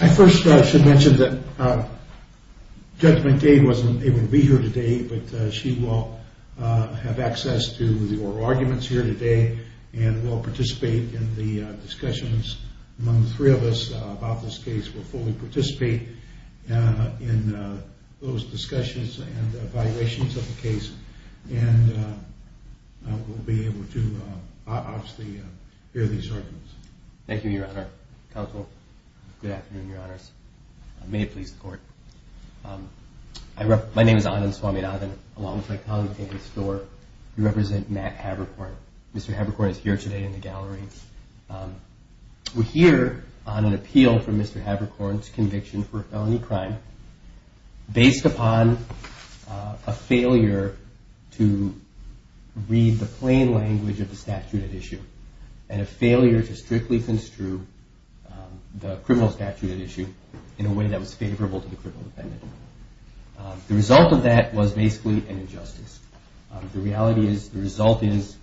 I first should mention that Judge McDade wasn't able to be here today, but she will have access to the oral arguments here today, and we'll participate in the discussions among the three of us about this case. We'll fully participate in those discussions and evaluations of the case, and we'll be able to obviously hear these arguments. Thank you, Your Honor. Counsel, good afternoon, Your Honors. May it please the Court. My name is Anand Swaminathan, along with my colleague David Storer, who represents Matt Haberkorn. Mr. Haberkorn is here today in the gallery. We're here on an appeal for Mr. Haberkorn's conviction for a felony crime based upon a failure to read the plain language of the statute at issue, and a failure to strictly construe the criminal statute at issue in a way that was favorable to the criminal defendant. The result of that was basically an injustice. The reality is the result is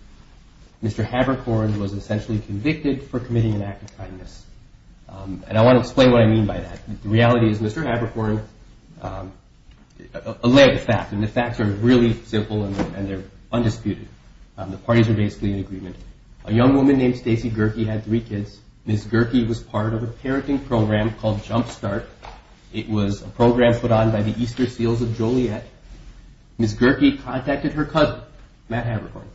Mr. Haberkorn was essentially convicted for committing an act of kindness, and I want to explain what I mean by that. The reality is Mr. Haberkorn allayed the fact, and the facts are really simple and they're undisputed. The parties are basically in agreement. A young woman named Stacy Gerke had three kids. Ms. Gerke was part of a parenting program called Jump Start. It was a program put on by the Easter Seals of Joliet. Ms. Gerke contacted her cousin, Matt Haberkorn,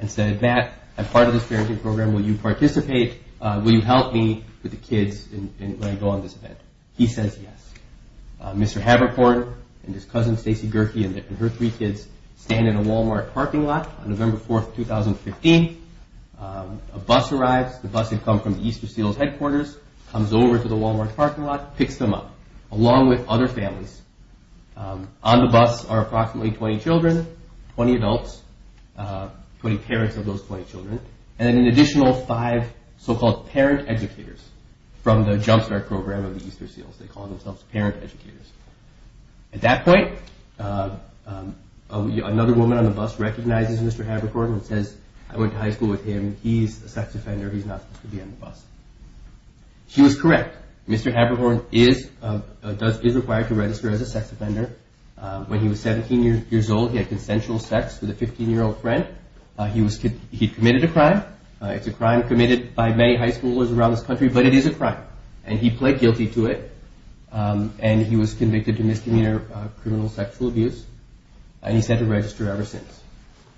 and said, Matt, I'm part of this parenting program. Will you participate? Will you help me with the kids and let me go on this event? He says yes. Mr. Haberkorn and his cousin Stacy Gerke and her three kids stand in a Walmart parking lot on November 4th, 2015. A bus arrives. The bus had come from the Easter Seals headquarters, comes over to the Walmart parking lot, picks them up along with other families. On the bus are approximately 20 children, 20 adults, 20 parents of those 20 children, and an additional five so-called parent educators from the Jump Start program of the Easter Seals. They call themselves parent educators. At that point, another woman on the bus recognizes Mr. Haberkorn and says, I went to high school with him. He's a sex offender. He's not supposed to be on the bus. She was correct. Mr. Haberkorn is required to register as a sex offender. When he was 17 years old, he had consensual sex with a 15-year-old friend. He committed a crime. It's a crime committed by many high schoolers around this country, but it is a crime, and he pled guilty to it, and he was convicted to misdemeanor criminal sexual abuse, and he's had to register ever since.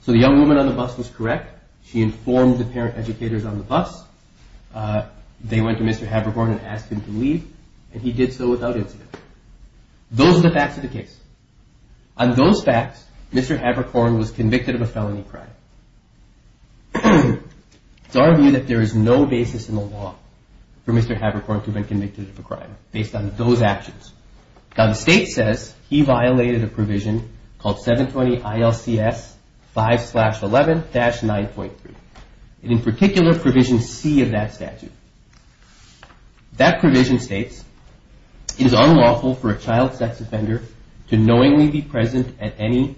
So the young woman on the bus was correct. She informed the parent educators on the bus. They went to Mr. Haberkorn and asked him to leave, and he did so without incident. Those are the facts of the case. On those facts, Mr. Haberkorn was convicted of a felony crime. It's our view that there is no basis in the law for Mr. Haberkorn to have been convicted of a crime based on those actions. Now, the state says he violated a provision called 720-ILCS 5-11-9.3, and in particular, Provision C of that statute. That provision states it is unlawful for a child sex offender to knowingly be present at any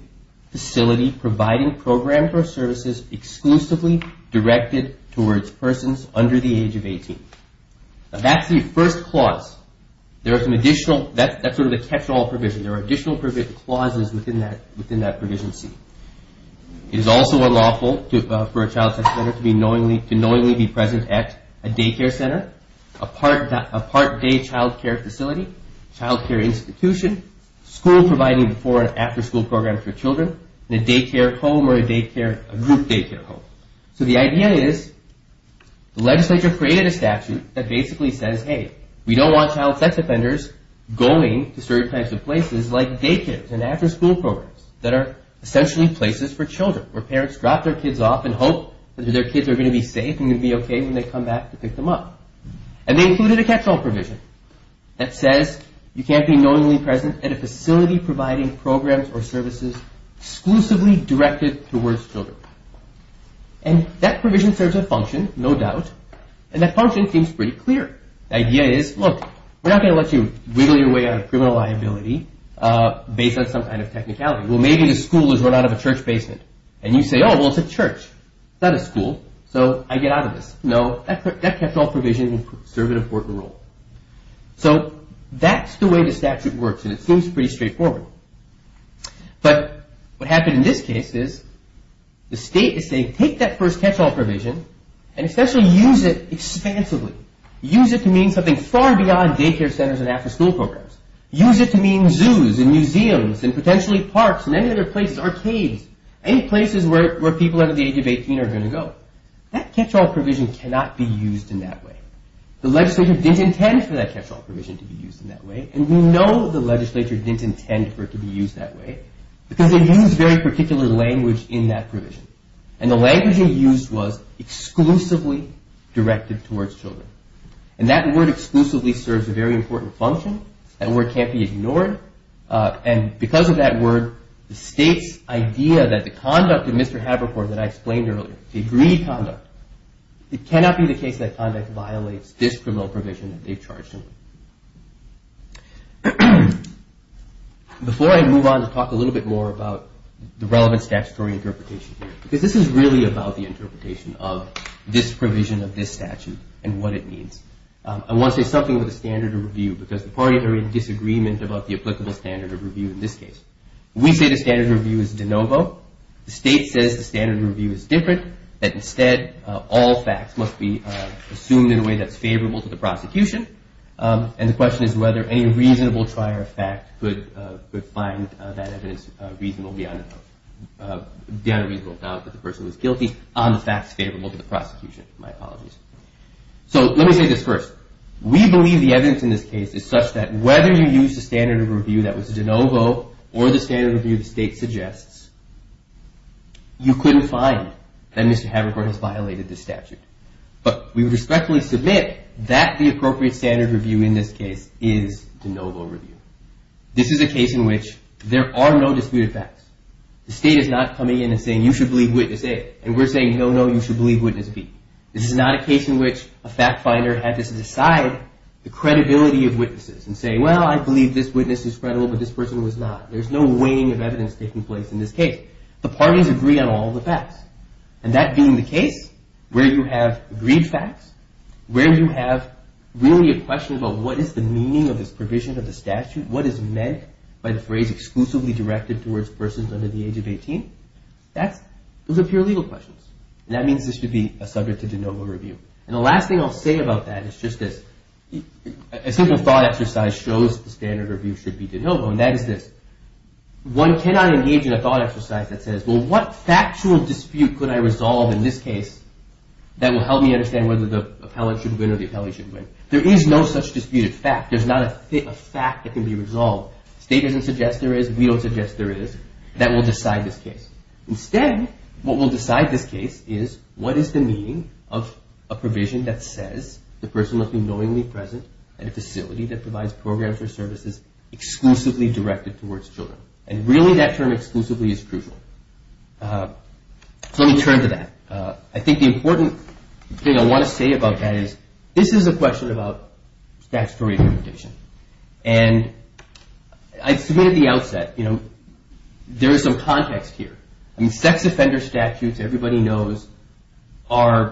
facility providing programs or services exclusively directed towards persons under the age of 18. Now, that's the first clause. That's sort of the catch-all provision. There are additional clauses within that Provision C. It is also unlawful for a child sex offender to knowingly be present at a daycare center, a part-day child care facility, child care institution, school providing before and after school programs for children, and a daycare home or a group daycare home. So the idea is the legislature created a statute that basically says, hey, we don't want child sex offenders going to certain types of places like daycares and after school programs that are essentially places for children where parents drop their kids off and hope that their kids are going to be safe and going to be okay when they come back to pick them up. And they included a catch-all provision that says you can't be knowingly present at a facility providing programs or services exclusively directed towards children. And that provision serves a function, no doubt, and that function seems pretty clear. The idea is, look, we're not going to let you wiggle your way out of criminal liability based on some kind of technicality. Well, maybe the school has run out of a church basement. And you say, oh, well, it's a church, not a school, so I get out of this. No, that catch-all provision will serve an important role. So that's the way the statute works, and it seems pretty straightforward. But what happened in this case is the state is saying, take that first catch-all provision and essentially use it expansively. Use it to mean something far beyond daycare centers and after school programs. Use it to mean zoos and museums and potentially parks and any other places, arcades, any places where people under the age of 18 are going to go. That catch-all provision cannot be used in that way. The legislature didn't intend for that catch-all provision to be used in that way, and we know the legislature didn't intend for it to be used that way because they used very particular language in that provision. And the language they used was exclusively directed towards children. And that word exclusively serves a very important function. That word can't be ignored. And because of that word, the state's idea that the conduct of Mr. Havercourt that I explained earlier, agreed conduct, it cannot be the case that conduct violates this criminal provision that they've charged him with. Before I move on to talk a little bit more about the relevant statutory interpretation here, because this is really about the interpretation of this provision of this statute and what it means, I want to say something about the standard of review because the parties are in disagreement about the applicable standard of review in this case. We say the standard of review is de novo. The state says the standard of review is different, that instead all facts must be assumed in a way that's favorable to the prosecution. And the question is whether any reasonable trier of fact could find that evidence reasonable beyond a reasonable doubt that the person was guilty on the facts favorable to the prosecution. My apologies. So let me say this first. We believe the evidence in this case is such that whether you use the standard of review that was de novo or the standard of review the state suggests, you couldn't find that Mr. Havercourt has violated this statute. But we respectfully submit that the appropriate standard of review in this case is de novo review. This is a case in which there are no disputed facts. The state is not coming in and saying, you should believe witness A. And we're saying, no, no, you should believe witness B. This is not a case in which a fact finder had to decide the credibility of witnesses and say, well, I believe this witness is credible but this person was not. There's no weighing of evidence taking place in this case. The parties agree on all the facts. And that being the case, where you have agreed facts, where you have really a question about what is the meaning of this provision of the statute, what is meant by the phrase exclusively directed towards persons under the age of 18, those are pure legal questions. And that means this should be subject to de novo review. And the last thing I'll say about that is just this. A simple thought exercise shows the standard of review should be de novo, and that is this. One cannot engage in a thought exercise that says, well, what factual dispute could I resolve in this case that will help me understand whether the appellant should win or the appellant should win? There is no such disputed fact. There's not a fact that can be resolved. The state doesn't suggest there is. We don't suggest there is. That will decide this case. Instead, what will decide this case is what is the meaning of a provision that says the person must be knowingly present at a facility that provides programs or services exclusively directed towards children. And really, that term exclusively is crucial. So let me turn to that. I think the important thing I want to say about that is this is a question about statutory interpretation. And I submitted at the outset, you know, there is some context here. I mean, sex offender statutes, everybody knows,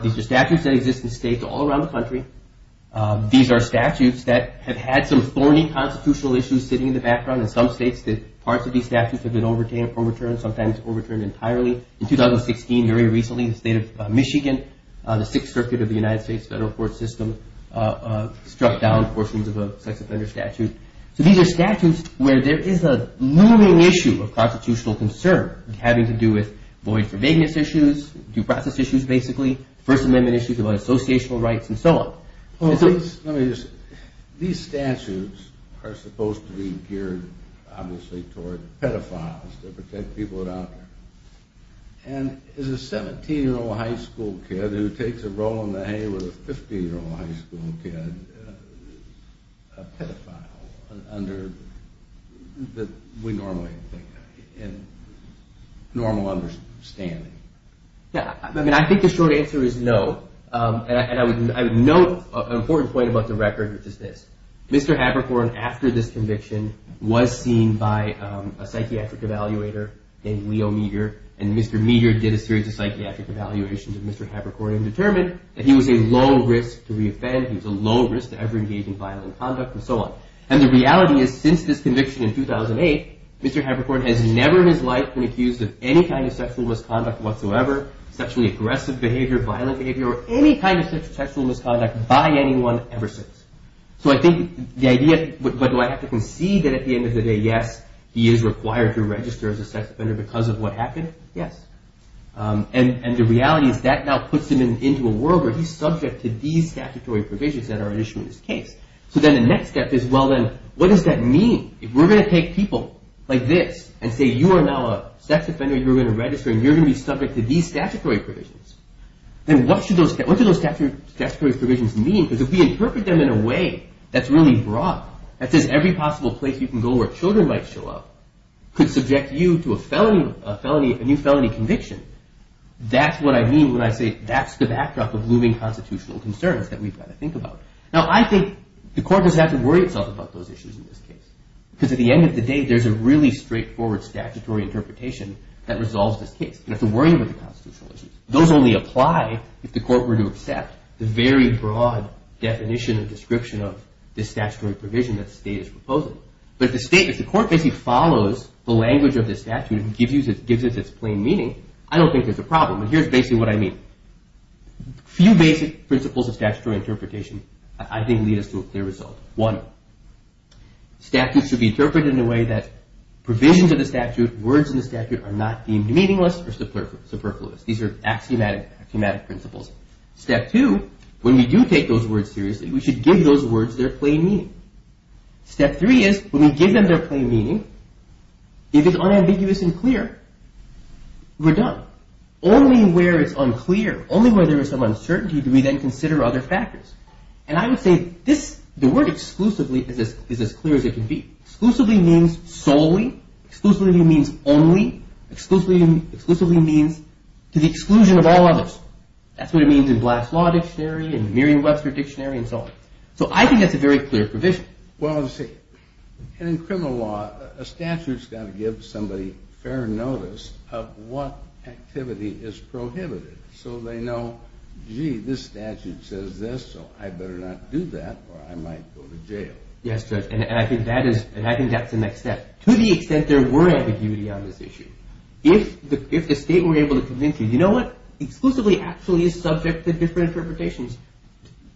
these are statutes that exist in states all around the country. These are statutes that have had some thorny constitutional issues sitting in the background in some states that parts of these statutes have been overturned, sometimes overturned entirely. In 2016, very recently, the state of Michigan, the Sixth Circuit of the United States federal court system struck down portions of a sex offender statute. So these are statutes where there is a looming issue of constitutional concern having to do with void for vagueness issues, due process issues basically, First Amendment issues about associational rights and so on. These statutes are supposed to be geared obviously toward pedophiles to protect people out there. And is a 17-year-old high school kid who takes a roll in the hay with a 15-year-old high school kid a pedophile? I mean, I think the short answer is no. And I would note an important point about the record, which is this. Mr. Haberkorn, after this conviction, was seen by a psychiatric evaluator named Leo Metier. And Mr. Metier did a series of psychiatric evaluations of Mr. Haberkorn and determined that he was a low risk to reoffend. He was a low risk to ever engage in violent conduct and so on. And the reality is since this conviction in 2008, Mr. Haberkorn has never in his life been accused of any kind of sexual misconduct whatsoever, sexually aggressive behavior, violent behavior, or any kind of sexual misconduct by anyone ever since. So I think the idea, but do I have to concede that at the end of the day, yes, he is required to register as a sex offender because of what happened? Yes. And the reality is that now puts him into a world where he's subject to these statutory provisions that are issued in this case. So then the next step is, well then, what does that mean? If we're going to take people like this and say you are now a sex offender, you're going to register, and you're going to be subject to these statutory provisions, then what do those statutory provisions mean? Because if we interpret them in a way that's really broad, that says every possible place you can go where children might show up could subject you to a new felony conviction, that's what I mean when I say that's the backdrop of looming constitutional concerns that we've got to think about. Now, I think the court doesn't have to worry itself about those issues in this case because at the end of the day, there's a really straightforward statutory interpretation that resolves this case. You don't have to worry about the constitutional issues. Those only apply if the court were to accept the very broad definition and description of this statutory provision that the state is proposing. But if the state, if the court basically follows the language of this statute and gives it its plain meaning, I don't think there's a problem. And here's basically what I mean. A few basic principles of statutory interpretation I think lead us to a clear result. One, statutes should be interpreted in a way that provisions of the statute, words in the statute, are not deemed meaningless or superfluous. These are axiomatic principles. Step two, when we do take those words seriously, we should give those words their plain meaning. Step three is when we give them their plain meaning, if it's unambiguous and clear, we're done. Only where it's unclear, only where there is some uncertainty do we then consider other factors. And I would say the word exclusively is as clear as it can be. Exclusively means solely. Exclusively means only. Exclusively means to the exclusion of all others. That's what it means in Black's Law Dictionary and Merriam-Webster Dictionary and so on. So I think that's a very clear provision. Well, see, in criminal law, a statute's got to give somebody fair notice of what activity is prohibited so they know, gee, this statute says this, so I better not do that or I might go to jail. Yes, Judge, and I think that's the next step. To the extent there were ambiguity on this issue, if the state were able to convince you, you know what? Exclusively actually is subject to different interpretations.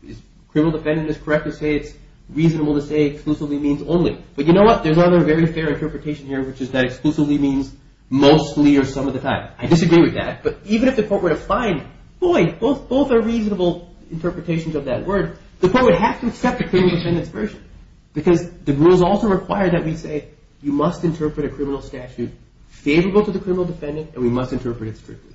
Is criminal defendant is correct to say it's reasonable to say exclusively means only? But you know what? There's another very fair interpretation here, which is that exclusively means mostly or some of the time. I disagree with that, but even if the court were to find, boy, both are reasonable interpretations of that word, the court would have to accept the criminal defendant's version. Because the rules also require that we say you must interpret a criminal statute favorable to the criminal defendant and we must interpret it strictly.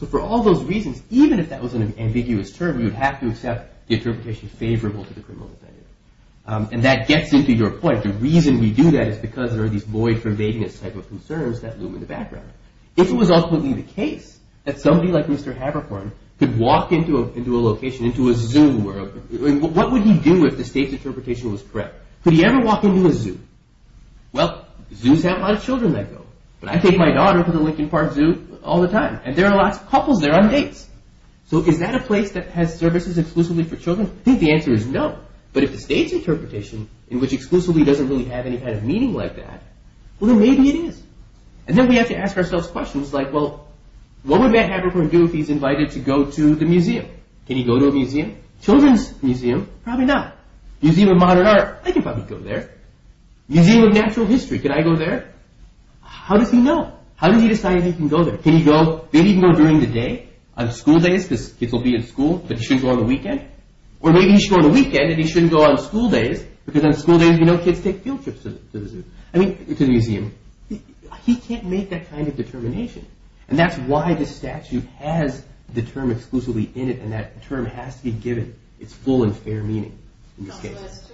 So for all those reasons, even if that was an ambiguous term, we would have to accept the interpretation favorable to the criminal defendant. And that gets into your point. The reason we do that is because there are these void for vagueness type of concerns that loom in the background. If it was ultimately the case that somebody like Mr. Haberkorn could walk into a location, into a zoo, what would he do if the state's interpretation was correct? Could he ever walk into a zoo? Well, zoos have a lot of children that go. But I take my daughter to the Lincoln Park Zoo all the time. And there are lots of couples there on dates. So is that a place that has services exclusively for children? I think the answer is no. But if the state's interpretation, in which exclusively doesn't really have any kind of meaning like that, well then maybe it is. And then we have to ask ourselves questions like, well, what would Matt Haberkorn do if he's invited to go to the museum? Can he go to a museum? Children's museum? Probably not. Museum of Modern Art? I could probably go there. Museum of Natural History? Could I go there? How does he know? How does he decide if he can go there? Can he go, maybe even go during the day, on school days, because kids will be at school, but he shouldn't go on the weekend? Or maybe he should go on the weekend and he shouldn't go on school days, because on school days, you know, kids take field trips to the zoo. I mean, to the museum. He can't make that kind of determination. And that's why the statute has the term exclusively in it, and that term has to be given its full and fair meaning in this case.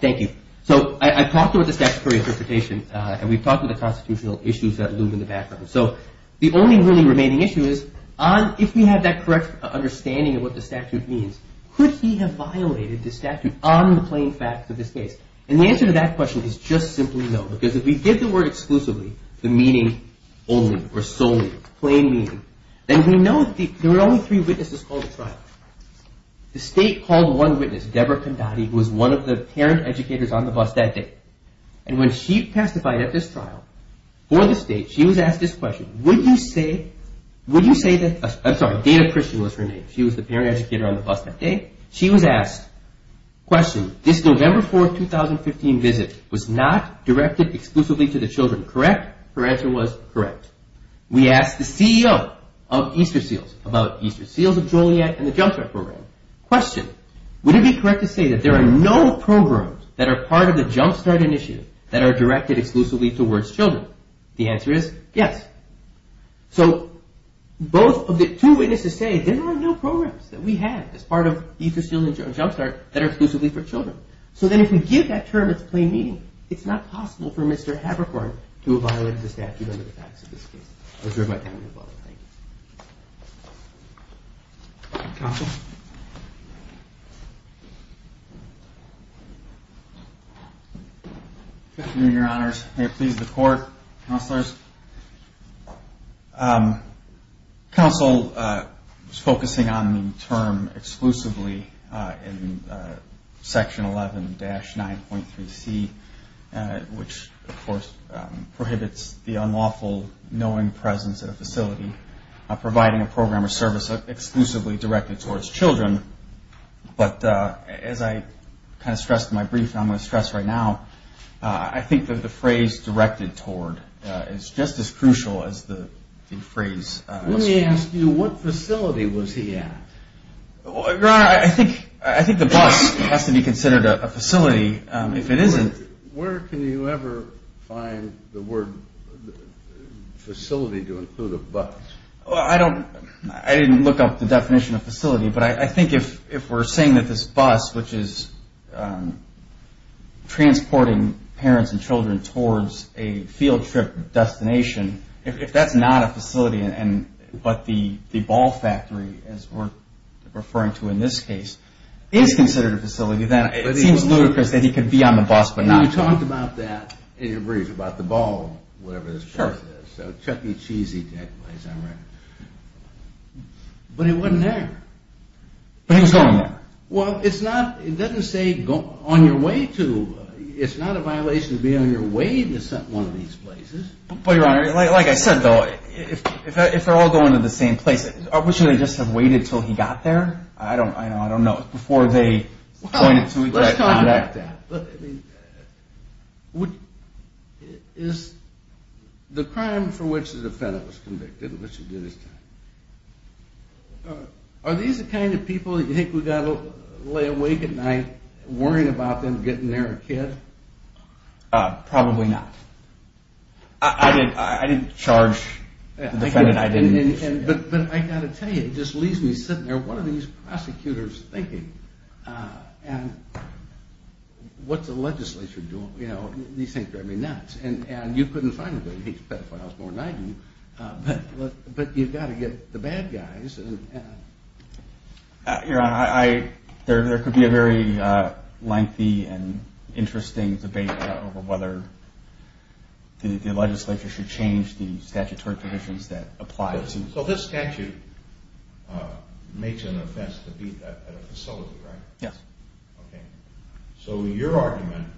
Thank you. So I talked about the statutory interpretation, and we've talked about the constitutional issues that loom in the background. So the only really remaining issue is, if we have that correct understanding of what the statute means, could he have violated the statute on the plain facts of this case? And the answer to that question is just simply no, because if we did the word exclusively, the meaning only, or solely, plain meaning, then we know that there were only three witnesses called to trial. The state called one witness, Deborah Condotti, who was one of the parent educators on the bus that day. And when she testified at this trial for the state, she was asked this question, Would you say that, I'm sorry, Dana Christian was her name. She was the parent educator on the bus that day. She was asked, question, this November 4th, 2015 visit was not directed exclusively to the children, correct? Her answer was correct. We asked the CEO of Easter Seals about Easter Seals of Joliet and the Jump Start program. Question, would it be correct to say that there are no programs that are part of the Jump Start initiative that are directed exclusively towards children? The answer is yes. So both of the two witnesses say there are no programs that we have as part of Easter Seals and Jump Start that are exclusively for children. So then if we give that term its plain meaning, it's not possible for Mr. Haberkorn to have violated the statute under the facts of this case. I reserve my time and your blessing. Thank you. Counsel? Good afternoon, Your Honors. May it please the Court, Counselors. Counsel was focusing on the term exclusively in Section 11-9.3C, which of course prohibits the unlawful knowing presence at a facility, providing a program or service exclusively directed towards children. But as I kind of stressed in my brief and I'm going to stress right now, I think that the phrase directed toward is just as crucial as the phrase... Let me ask you, what facility was he at? Your Honor, I think the bus has to be considered a facility. If it isn't... Where can you ever find the word facility to include a bus? I didn't look up the definition of facility, but I think if we're saying that this bus, which is transporting parents and children towards a field trip destination, if that's not a facility, but the ball factory, as we're referring to in this case, is considered a facility, then it seems ludicrous that he could be on the bus but not go. You talked about that in your brief about the ball, whatever this bus is. Sure. So Chuck E. Cheesy, that place, I'm right. But he wasn't there. But he was going there. Well, it's not, it doesn't say on your way to. It's not a violation to be on your way to one of these places. But Your Honor, like I said though, if they're all going to the same place, shouldn't they just have waited until he got there? I don't know. It's before they pointed to each other. Well, let's talk about that. Is the crime for which the defendant was convicted, which he did this time, are these the kind of people you think we've got to lay awake at night worrying about them getting their kid? Probably not. I didn't charge the defendant. But I've got to tell you, it just leaves me sitting there, what are these prosecutors thinking? And what's the legislature doing? These things drive me nuts. And you couldn't find anybody who hates pedophiles more than I do, but you've got to get the bad guys. Your Honor, there could be a very lengthy and interesting debate over whether the legislature should change the statutory provisions that apply to... So this statute makes an offense to be at a facility, right? Yes. Okay. So your argument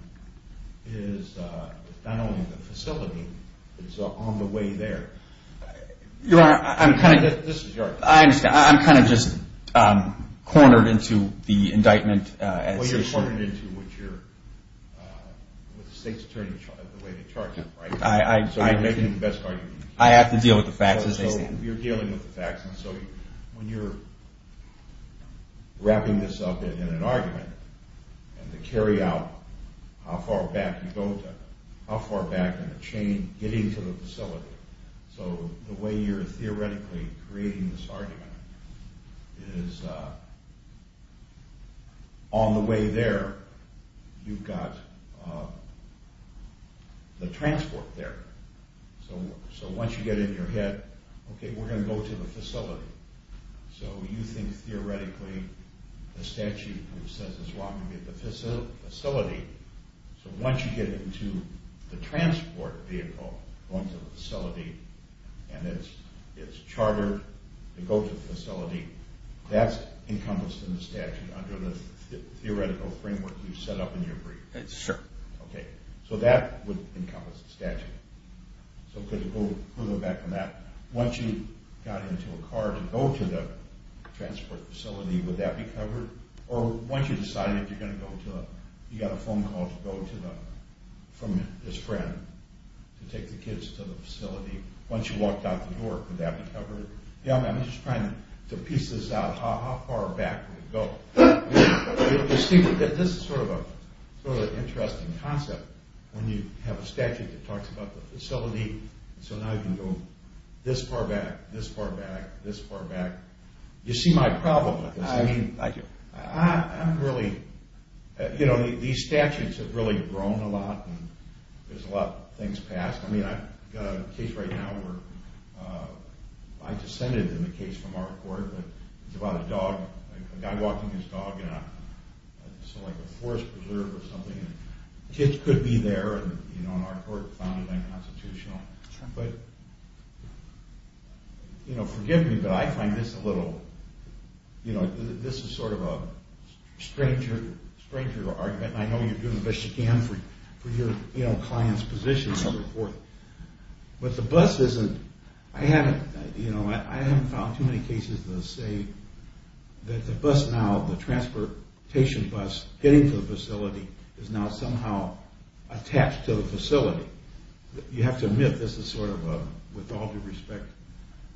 is not only the facility, it's on the way there. Your Honor, I'm kind of... This is your argument. I understand. I'm kind of just cornered into the indictment as... Well, you're cornered into what the state's attorney, the way they charge it, right? So you're making the best argument you can. I have to deal with the facts as they stand. So you're dealing with the facts, and so when you're wrapping this up in an argument, and to carry out how far back you go to, how far back in the chain getting to the facility, so the way you're theoretically creating this argument is on the way there, you've got the transport there. So once you get it in your head, okay, we're going to go to the facility. So you think theoretically the statute says as long as we get the facility, so once you get into the transport vehicle going to the facility, and it's chartered to go to the facility, that's encompassed in the statute under the theoretical framework you set up in your brief. That's true. Okay. So that would encompass the statute. So we'll go back on that. Once you got into a car to go to the transport facility, would that be covered? Or once you decided you got a phone call to go from this friend to take the kids to the facility, once you walked out the door, would that be covered? I'm just trying to piece this out. How far back would it go? This is sort of an interesting concept when you have a statute that talks about the facility, so now you can go this far back, this far back, this far back. You see my problem with this. I do. I'm really, you know, these statutes have really grown a lot, and there's a lot of things passed. I mean, I've got a case right now where I descended in the case from our court, but it's about a dog, a guy walking his dog in sort of like a forest preserve or something, and kids could be there, and our court found it unconstitutional. But, you know, forgive me, but I find this a little, you know, this is sort of a stranger argument, and I know you're doing the best you can for your client's position and so forth, but the bus isn't, I haven't, you know, I haven't found too many cases that say that the bus now, the transportation bus getting to the facility is now somehow attached to the facility. You have to admit this is sort of a, with all due respect,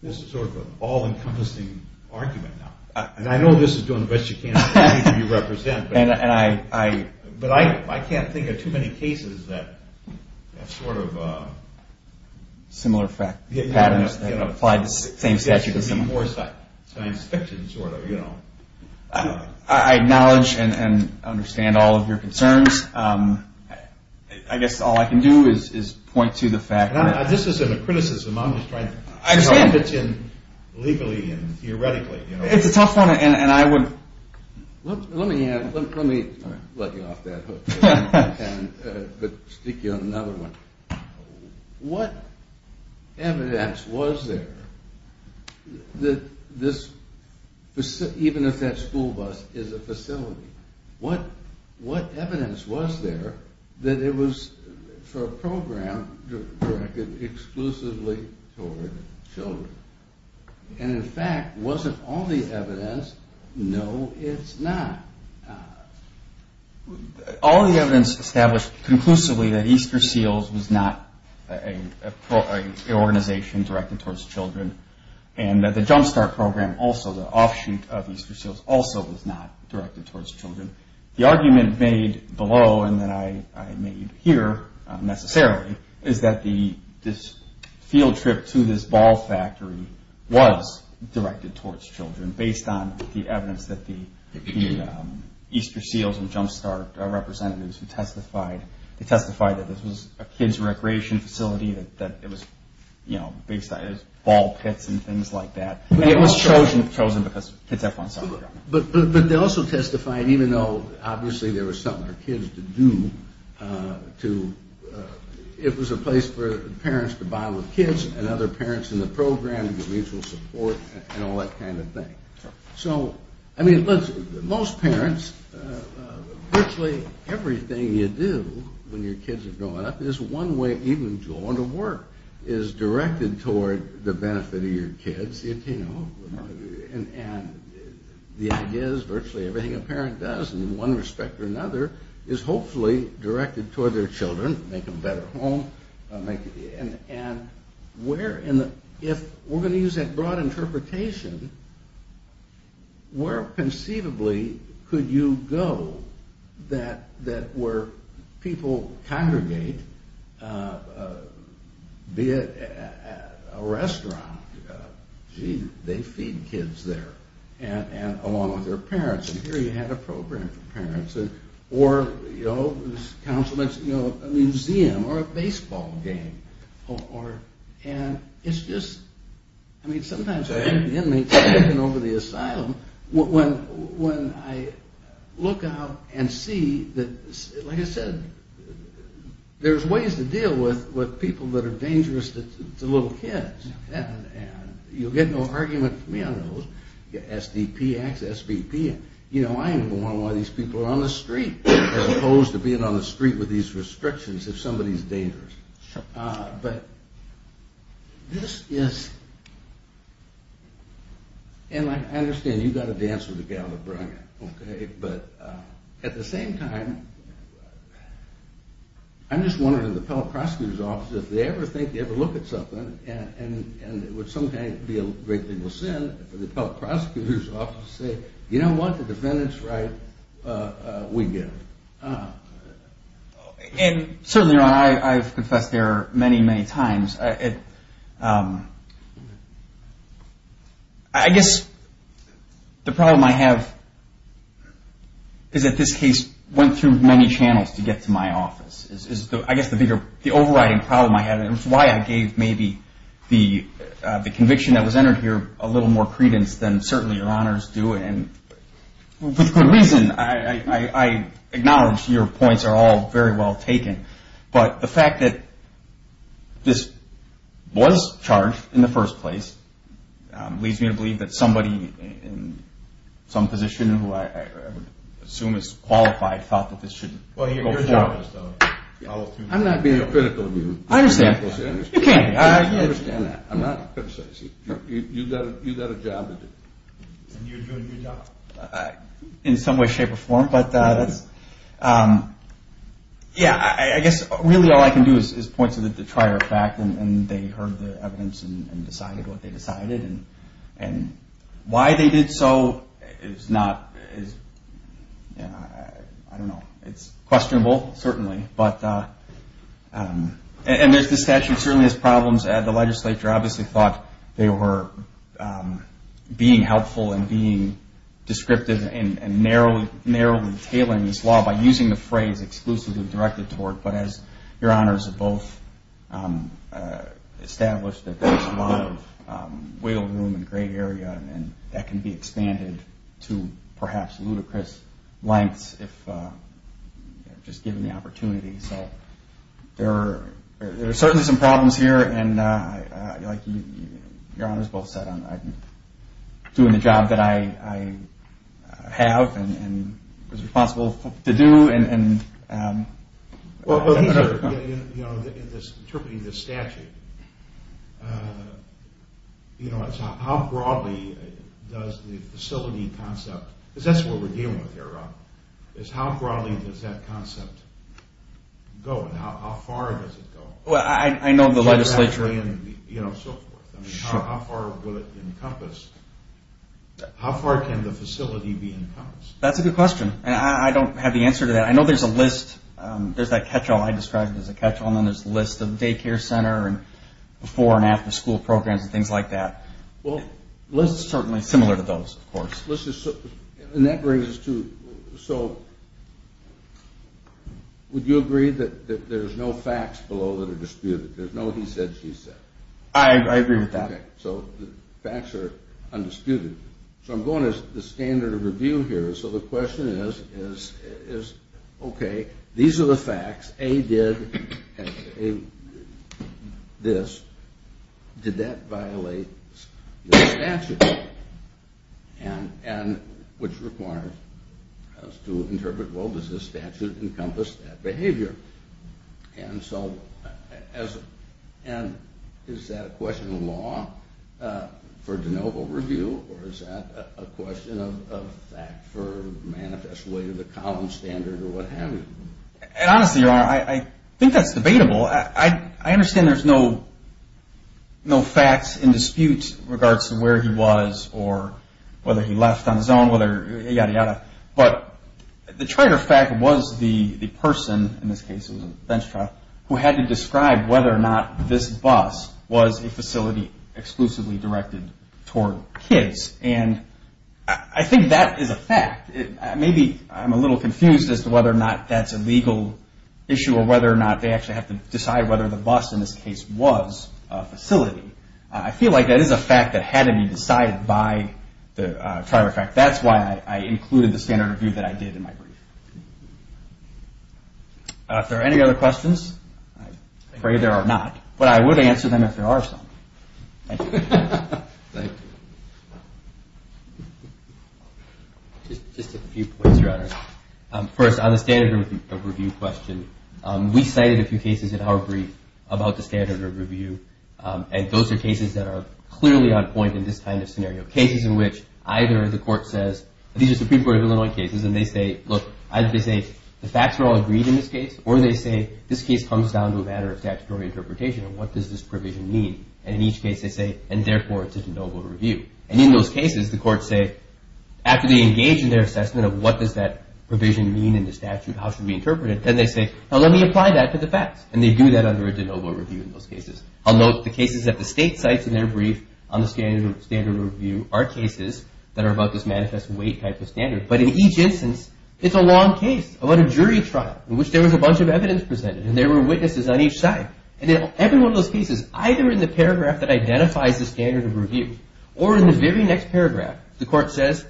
this is sort of an all-encompassing argument now, and I know this is doing the best you can for the people you represent, but I can't think of too many cases that have sort of a... Similar patterns that apply to the same statute. More science fiction sort of, you know. I acknowledge and understand all of your concerns. I guess all I can do is point to the fact that... This isn't a criticism, I'm just trying to pitch in legally and theoretically, you know. It's a tough one, and I would... Let me let you off that hook and stick you on another one. What evidence was there that this, even if that school bus is a facility, what evidence was there that it was for a program directed exclusively toward children? And in fact, was it all the evidence? No, it's not. All the evidence established conclusively that Easter Seals was not an organization directed towards children, and that the Jump Start program also, the offshoot of Easter Seals, also was not directed towards children. The argument made below, and that I made here, necessarily, is that this field trip to this ball factory was directed towards children, based on the evidence that the Easter Seals and Jump Start representatives who testified, they testified that this was a kids' recreation facility, that it was, you know, ball pits and things like that, and it was chosen because kids have fun. But they also testified, even though, obviously, there was something for kids to do, it was a place for parents to bond with kids and other parents in the program, mutual support, and all that kind of thing. So, I mean, listen, most parents, virtually everything you do when your kids are growing up is one way, even going to work, is directed toward the benefit of your kids, you know, and the idea is virtually everything a parent does, in one respect or another, is hopefully directed toward their children, make a better home, and if we're going to use that broad interpretation, where, conceivably, could you go that where people congregate, be it at a restaurant, gee, they feed kids there, along with their parents, and here you had a program for parents, or, you know, a museum, or a baseball game, and it's just, I mean, sometimes I have inmates looking over the asylum, when I look out and see that, like I said, there's ways to deal with people that are dangerous to little kids, and you'll get no argument from me on those, SDP acts, SBP, and, you know, I'm one of these people on the street, as opposed to being on the street with these restrictions if somebody's dangerous. But, this is, and I understand you've got to dance with the gal that brought it, okay, but at the same time, I'm just wondering if the appellate prosecutor's office, if they ever think you have to look at something, and it would sometimes be a great deal of sin for the appellate prosecutor's office to say, you know what, the defendant's right, we get it. And certainly, Ron, I've confessed there many, many times. I guess the problem I have is that this case went through many channels to get to my office. I guess the bigger, the overriding problem I have, and it's why I gave maybe the conviction that was entered here a little more credence than certainly your honors do, and with good reason, I acknowledge your points are all very well taken, but the fact that this was charged in the first place leads me to believe that somebody in some position, who I would assume is qualified, thought that this should go forward. Well, your job is to follow through. I'm not being critical of you. I understand. You can't be. I understand that. I'm not criticizing. You've got a job to do. And you're doing your job. In some way, shape, or form, but that's, yeah, I guess really all I can do is point to the prior fact, and they heard the evidence and decided what they decided, and why they did so is not, I don't know. It's questionable, certainly, and the statute certainly has problems. The legislature obviously thought they were being helpful and being descriptive and narrowly tailoring this law by using the phrase exclusively directed toward, but as your honors have both established, there's a lot of wiggle room and gray area, and that can be expanded to perhaps ludicrous lengths if just given the opportunity. So there are certainly some problems here, and like your honors both said, I'm doing the job that I have and was responsible to do. Well, interpreting this statute, how broadly does the facility concept, because that's what we're dealing with here, Rob, is how broadly does that concept go, and how far does it go? Well, I know the legislature. How far can the facility be encompassed? That's a good question. I don't have the answer to that. I know there's a list. There's that catch-all I described as a catch-all, and then there's the list of daycare center and before and after school programs and things like that. Well, the list is certainly similar to those, of course. And that brings us to, so would you agree that there's no facts below that are disputed? There's no he said, she said. I agree with that. Okay, so the facts are undisputed. So I'm going to the standard of review here. So the question is, okay, these are the facts. A, did this. Did that violate the statute? And which requires us to interpret, well, does this statute encompass that behavior? And so is that a question of law for de novo review, or is that a question of fact for manifestly the common standard or what have you? Honestly, Your Honor, I think that's debatable. I understand there's no facts in dispute in regards to where he was or whether he left on his own, yada, yada. But the triter fact was the person, in this case it was a bench trial, who had to describe whether or not this bus was a facility exclusively directed toward kids. And I think that is a fact. Maybe I'm a little confused as to whether or not that's a legal issue or whether or not they actually have to decide whether the bus in this case was a facility. I feel like that is a fact that had to be decided by the triter fact. That's why I included the standard review that I did in my brief. Are there any other questions? I'm afraid there are not, but I would answer them if there are some. Thank you. Thank you. Just a few points, Your Honor. First, on the standard review question, we cited a few cases in our brief about the standard review, and those are cases that are clearly on point in this kind of scenario, cases in which either the court says, these are Supreme Court of Illinois cases, and they say, look, either they say the facts are all agreed in this case, or they say this case comes down to a matter of statutory interpretation and what does this provision mean. And in each case they say, and therefore it's a de novo review. And in those cases the courts say, after they engage in their assessment of what does that provision mean in the statute, how should we interpret it, then they say, now let me apply that to the facts. And they do that under a de novo review in those cases. I'll note the cases at the state sites in their brief on the standard review are cases that are about this manifest weight type of standard. But in each instance, it's a long case about a jury trial in which there was a bunch of evidence presented, and there were witnesses on each side. And in every one of those cases, either in the paragraph that identifies the standard of review or in the very next paragraph, the court says,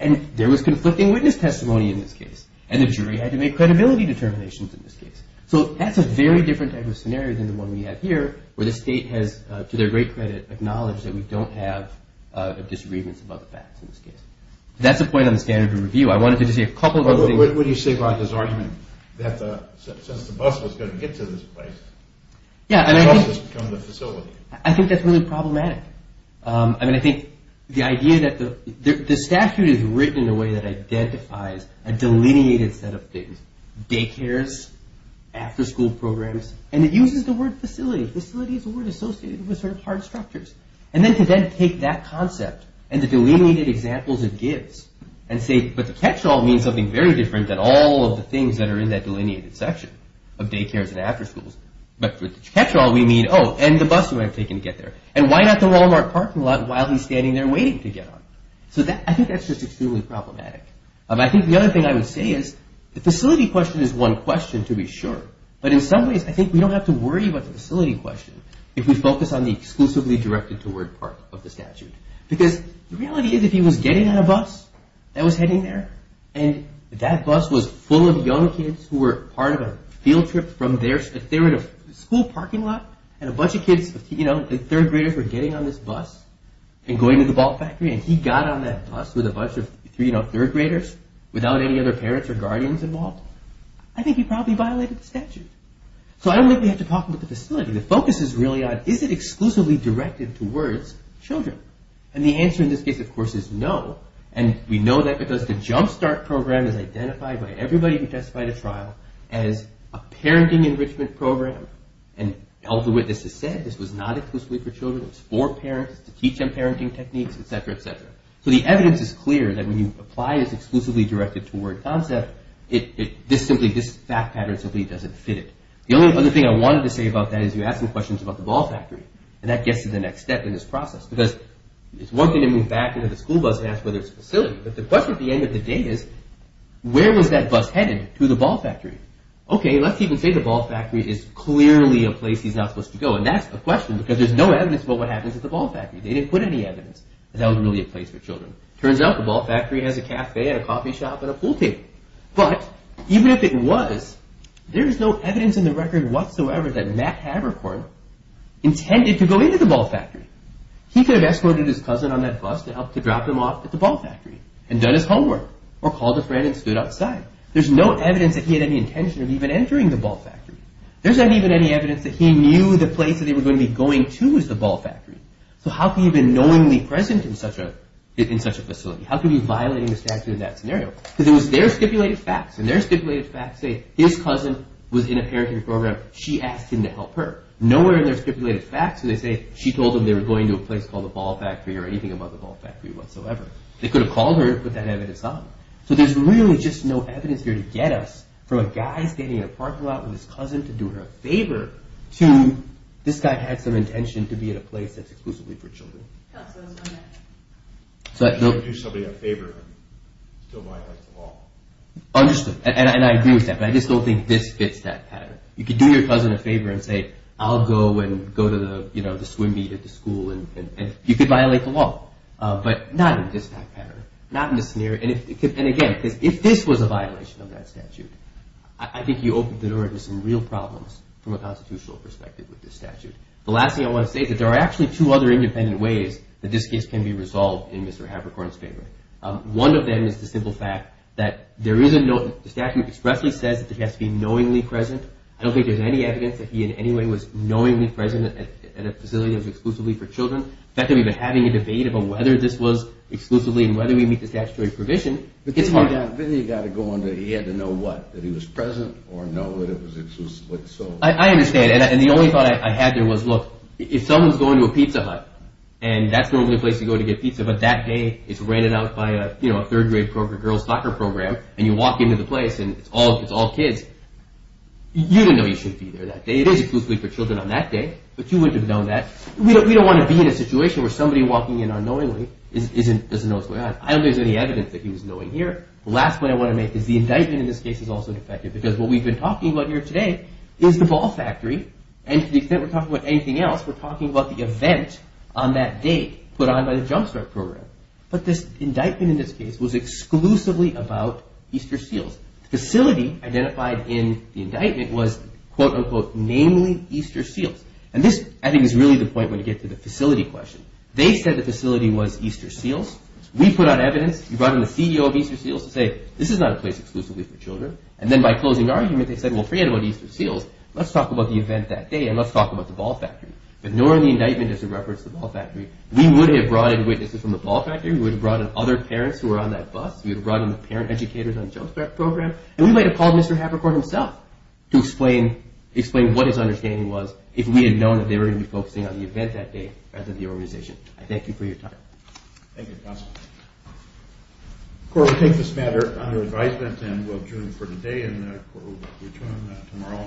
and there was conflicting witness testimony in this case, and the jury had to make credibility determinations in this case. So that's a very different type of scenario than the one we have here where the state has, to their great credit, acknowledged that we don't have a disagreement about the facts in this case. That's a point on the standard of review. I wanted to just say a couple of other things. What do you say about his argument that since the bus was going to get to this place, the bus has become the facility? I think that's really problematic. I mean, I think the idea that the statute is written in a way that identifies a delineated set of things, daycares, after-school programs, and it uses the word facility. Facility is a word associated with sort of hard structures. And then to then take that concept and the delineated examples it gives and say, but the catch-all means something very different than all of the things that are in that delineated section of daycares and after-schools. But for the catch-all, we mean, oh, and the bus would have taken to get there. And why not the Walmart parking lot while he's standing there waiting to get on? So I think that's just extremely problematic. I think the other thing I would say is the facility question is one question to be sure. But in some ways, I think we don't have to worry about the facility question if we focus on the exclusively directed-toward part of the statute. Because the reality is if he was getting on a bus that was heading there, and that bus was full of young kids who were part of a field trip from their – if they were in a school parking lot, and a bunch of kids, you know, third graders were getting on this bus and going to the ball factory, and he got on that bus with a bunch of, you know, third graders without any other parents or guardians involved, I think he probably violated the statute. So I don't think we have to talk about the facility. The focus is really on is it exclusively directed-towards children? And the answer in this case, of course, is no. And we know that because the Jump Start program is identified by everybody who testified at trial as a parenting enrichment program. And elder witnesses said this was not exclusively for children. It was for parents to teach them parenting techniques, et cetera, et cetera. So the evidence is clear that when you apply this exclusively directed-toward concept, this simply – this fact pattern simply doesn't fit it. The only other thing I wanted to say about that is you ask some questions about the ball factory, and that gets to the next step in this process. Because it's one thing to move back into the school bus and ask whether it's a facility, but the question at the end of the day is where was that bus headed to the ball factory? Okay, let's even say the ball factory is clearly a place he's not supposed to go. And that's a question because there's no evidence about what happens at the ball factory. They didn't put any evidence that that was really a place for children. Turns out the ball factory has a cafe and a coffee shop and a pool table. But even if it was, there is no evidence in the record whatsoever that Matt Haverkorn intended to go into the ball factory. He could have escorted his cousin on that bus to help to drop them off at the ball factory and done his homework or called a friend and stood outside. There's no evidence that he had any intention of even entering the ball factory. There's not even any evidence that he knew the place that they were going to be going to was the ball factory. So how could he have been knowingly present in such a facility? How could he be violating the statute in that scenario? Because it was their stipulated facts, and their stipulated facts say his cousin was in a parenting program, she asked him to help her. Nowhere in their stipulated facts do they say she told them they were going to a place called the ball factory or anything above the ball factory whatsoever. They could have called her and put that evidence on. So there's really just no evidence here to get us from a guy standing in a parking lot with his cousin to do her a favor to this guy who had some intention to be at a place that's exclusively for children. So you can't do somebody a favor and still violate the law. Understood, and I agree with that, but I just don't think this fits that pattern. You could do your cousin a favor and say I'll go and go to the swim meet at the school and you could violate the law, but not in this pattern, not in this scenario. And again, if this was a violation of that statute, I think you open the door to some real problems from a constitutional perspective with this statute. The last thing I want to say is that there are actually two other independent ways that this case can be resolved in Mr. Haberkorn's favor. One of them is the simple fact that the statute expressly says that he has to be knowingly present. I don't think there's any evidence that he in any way was knowingly present at a facility that was exclusively for children. The fact that we've been having a debate about whether this was exclusively and whether we meet the statutory provision, it's hard. Then you've got to go on to he had to know what, that he was present or no, that it was exclusively. I understand, and the only thought I had there was look, if someone's going to a pizza hut and that's the only place you go to get pizza, but that day it's rented out by a third grade girls' soccer program and you walk into the place and it's all kids, you don't know you shouldn't be there that day. It is exclusively for children on that day, but you wouldn't have known that. We don't want to be in a situation where somebody walking in unknowingly doesn't know what's going on. I don't think there's any evidence that he was knowing here. The last point I want to make is the indictment in this case is also defective because what we've been talking about here today is the ball factory and to the extent we're talking about anything else, we're talking about the event on that date put on by the Jump Start program, but this indictment in this case was exclusively about Easter Seals. The facility identified in the indictment was quote, unquote, namely Easter Seals. This, I think, is really the point when you get to the facility question. They said the facility was Easter Seals. We put out evidence. We brought in the CEO of Easter Seals to say this is not a place exclusively for children and then by closing argument they said, well, forget about Easter Seals. Let's talk about the event that day and let's talk about the ball factory, but nor in the indictment does it reference the ball factory. We would have brought in witnesses from the ball factory. We would have brought in other parents who were on that bus. We would have brought in the parent educators on the Jump Start program and we might have called Mr. Havercourt himself to explain what his understanding was if we had known that they were going to be focusing on the event that day rather than the organization. I thank you for your time. Thank you, counsel. The court will take this matter under advisement and will adjourn for today and the court will return tomorrow.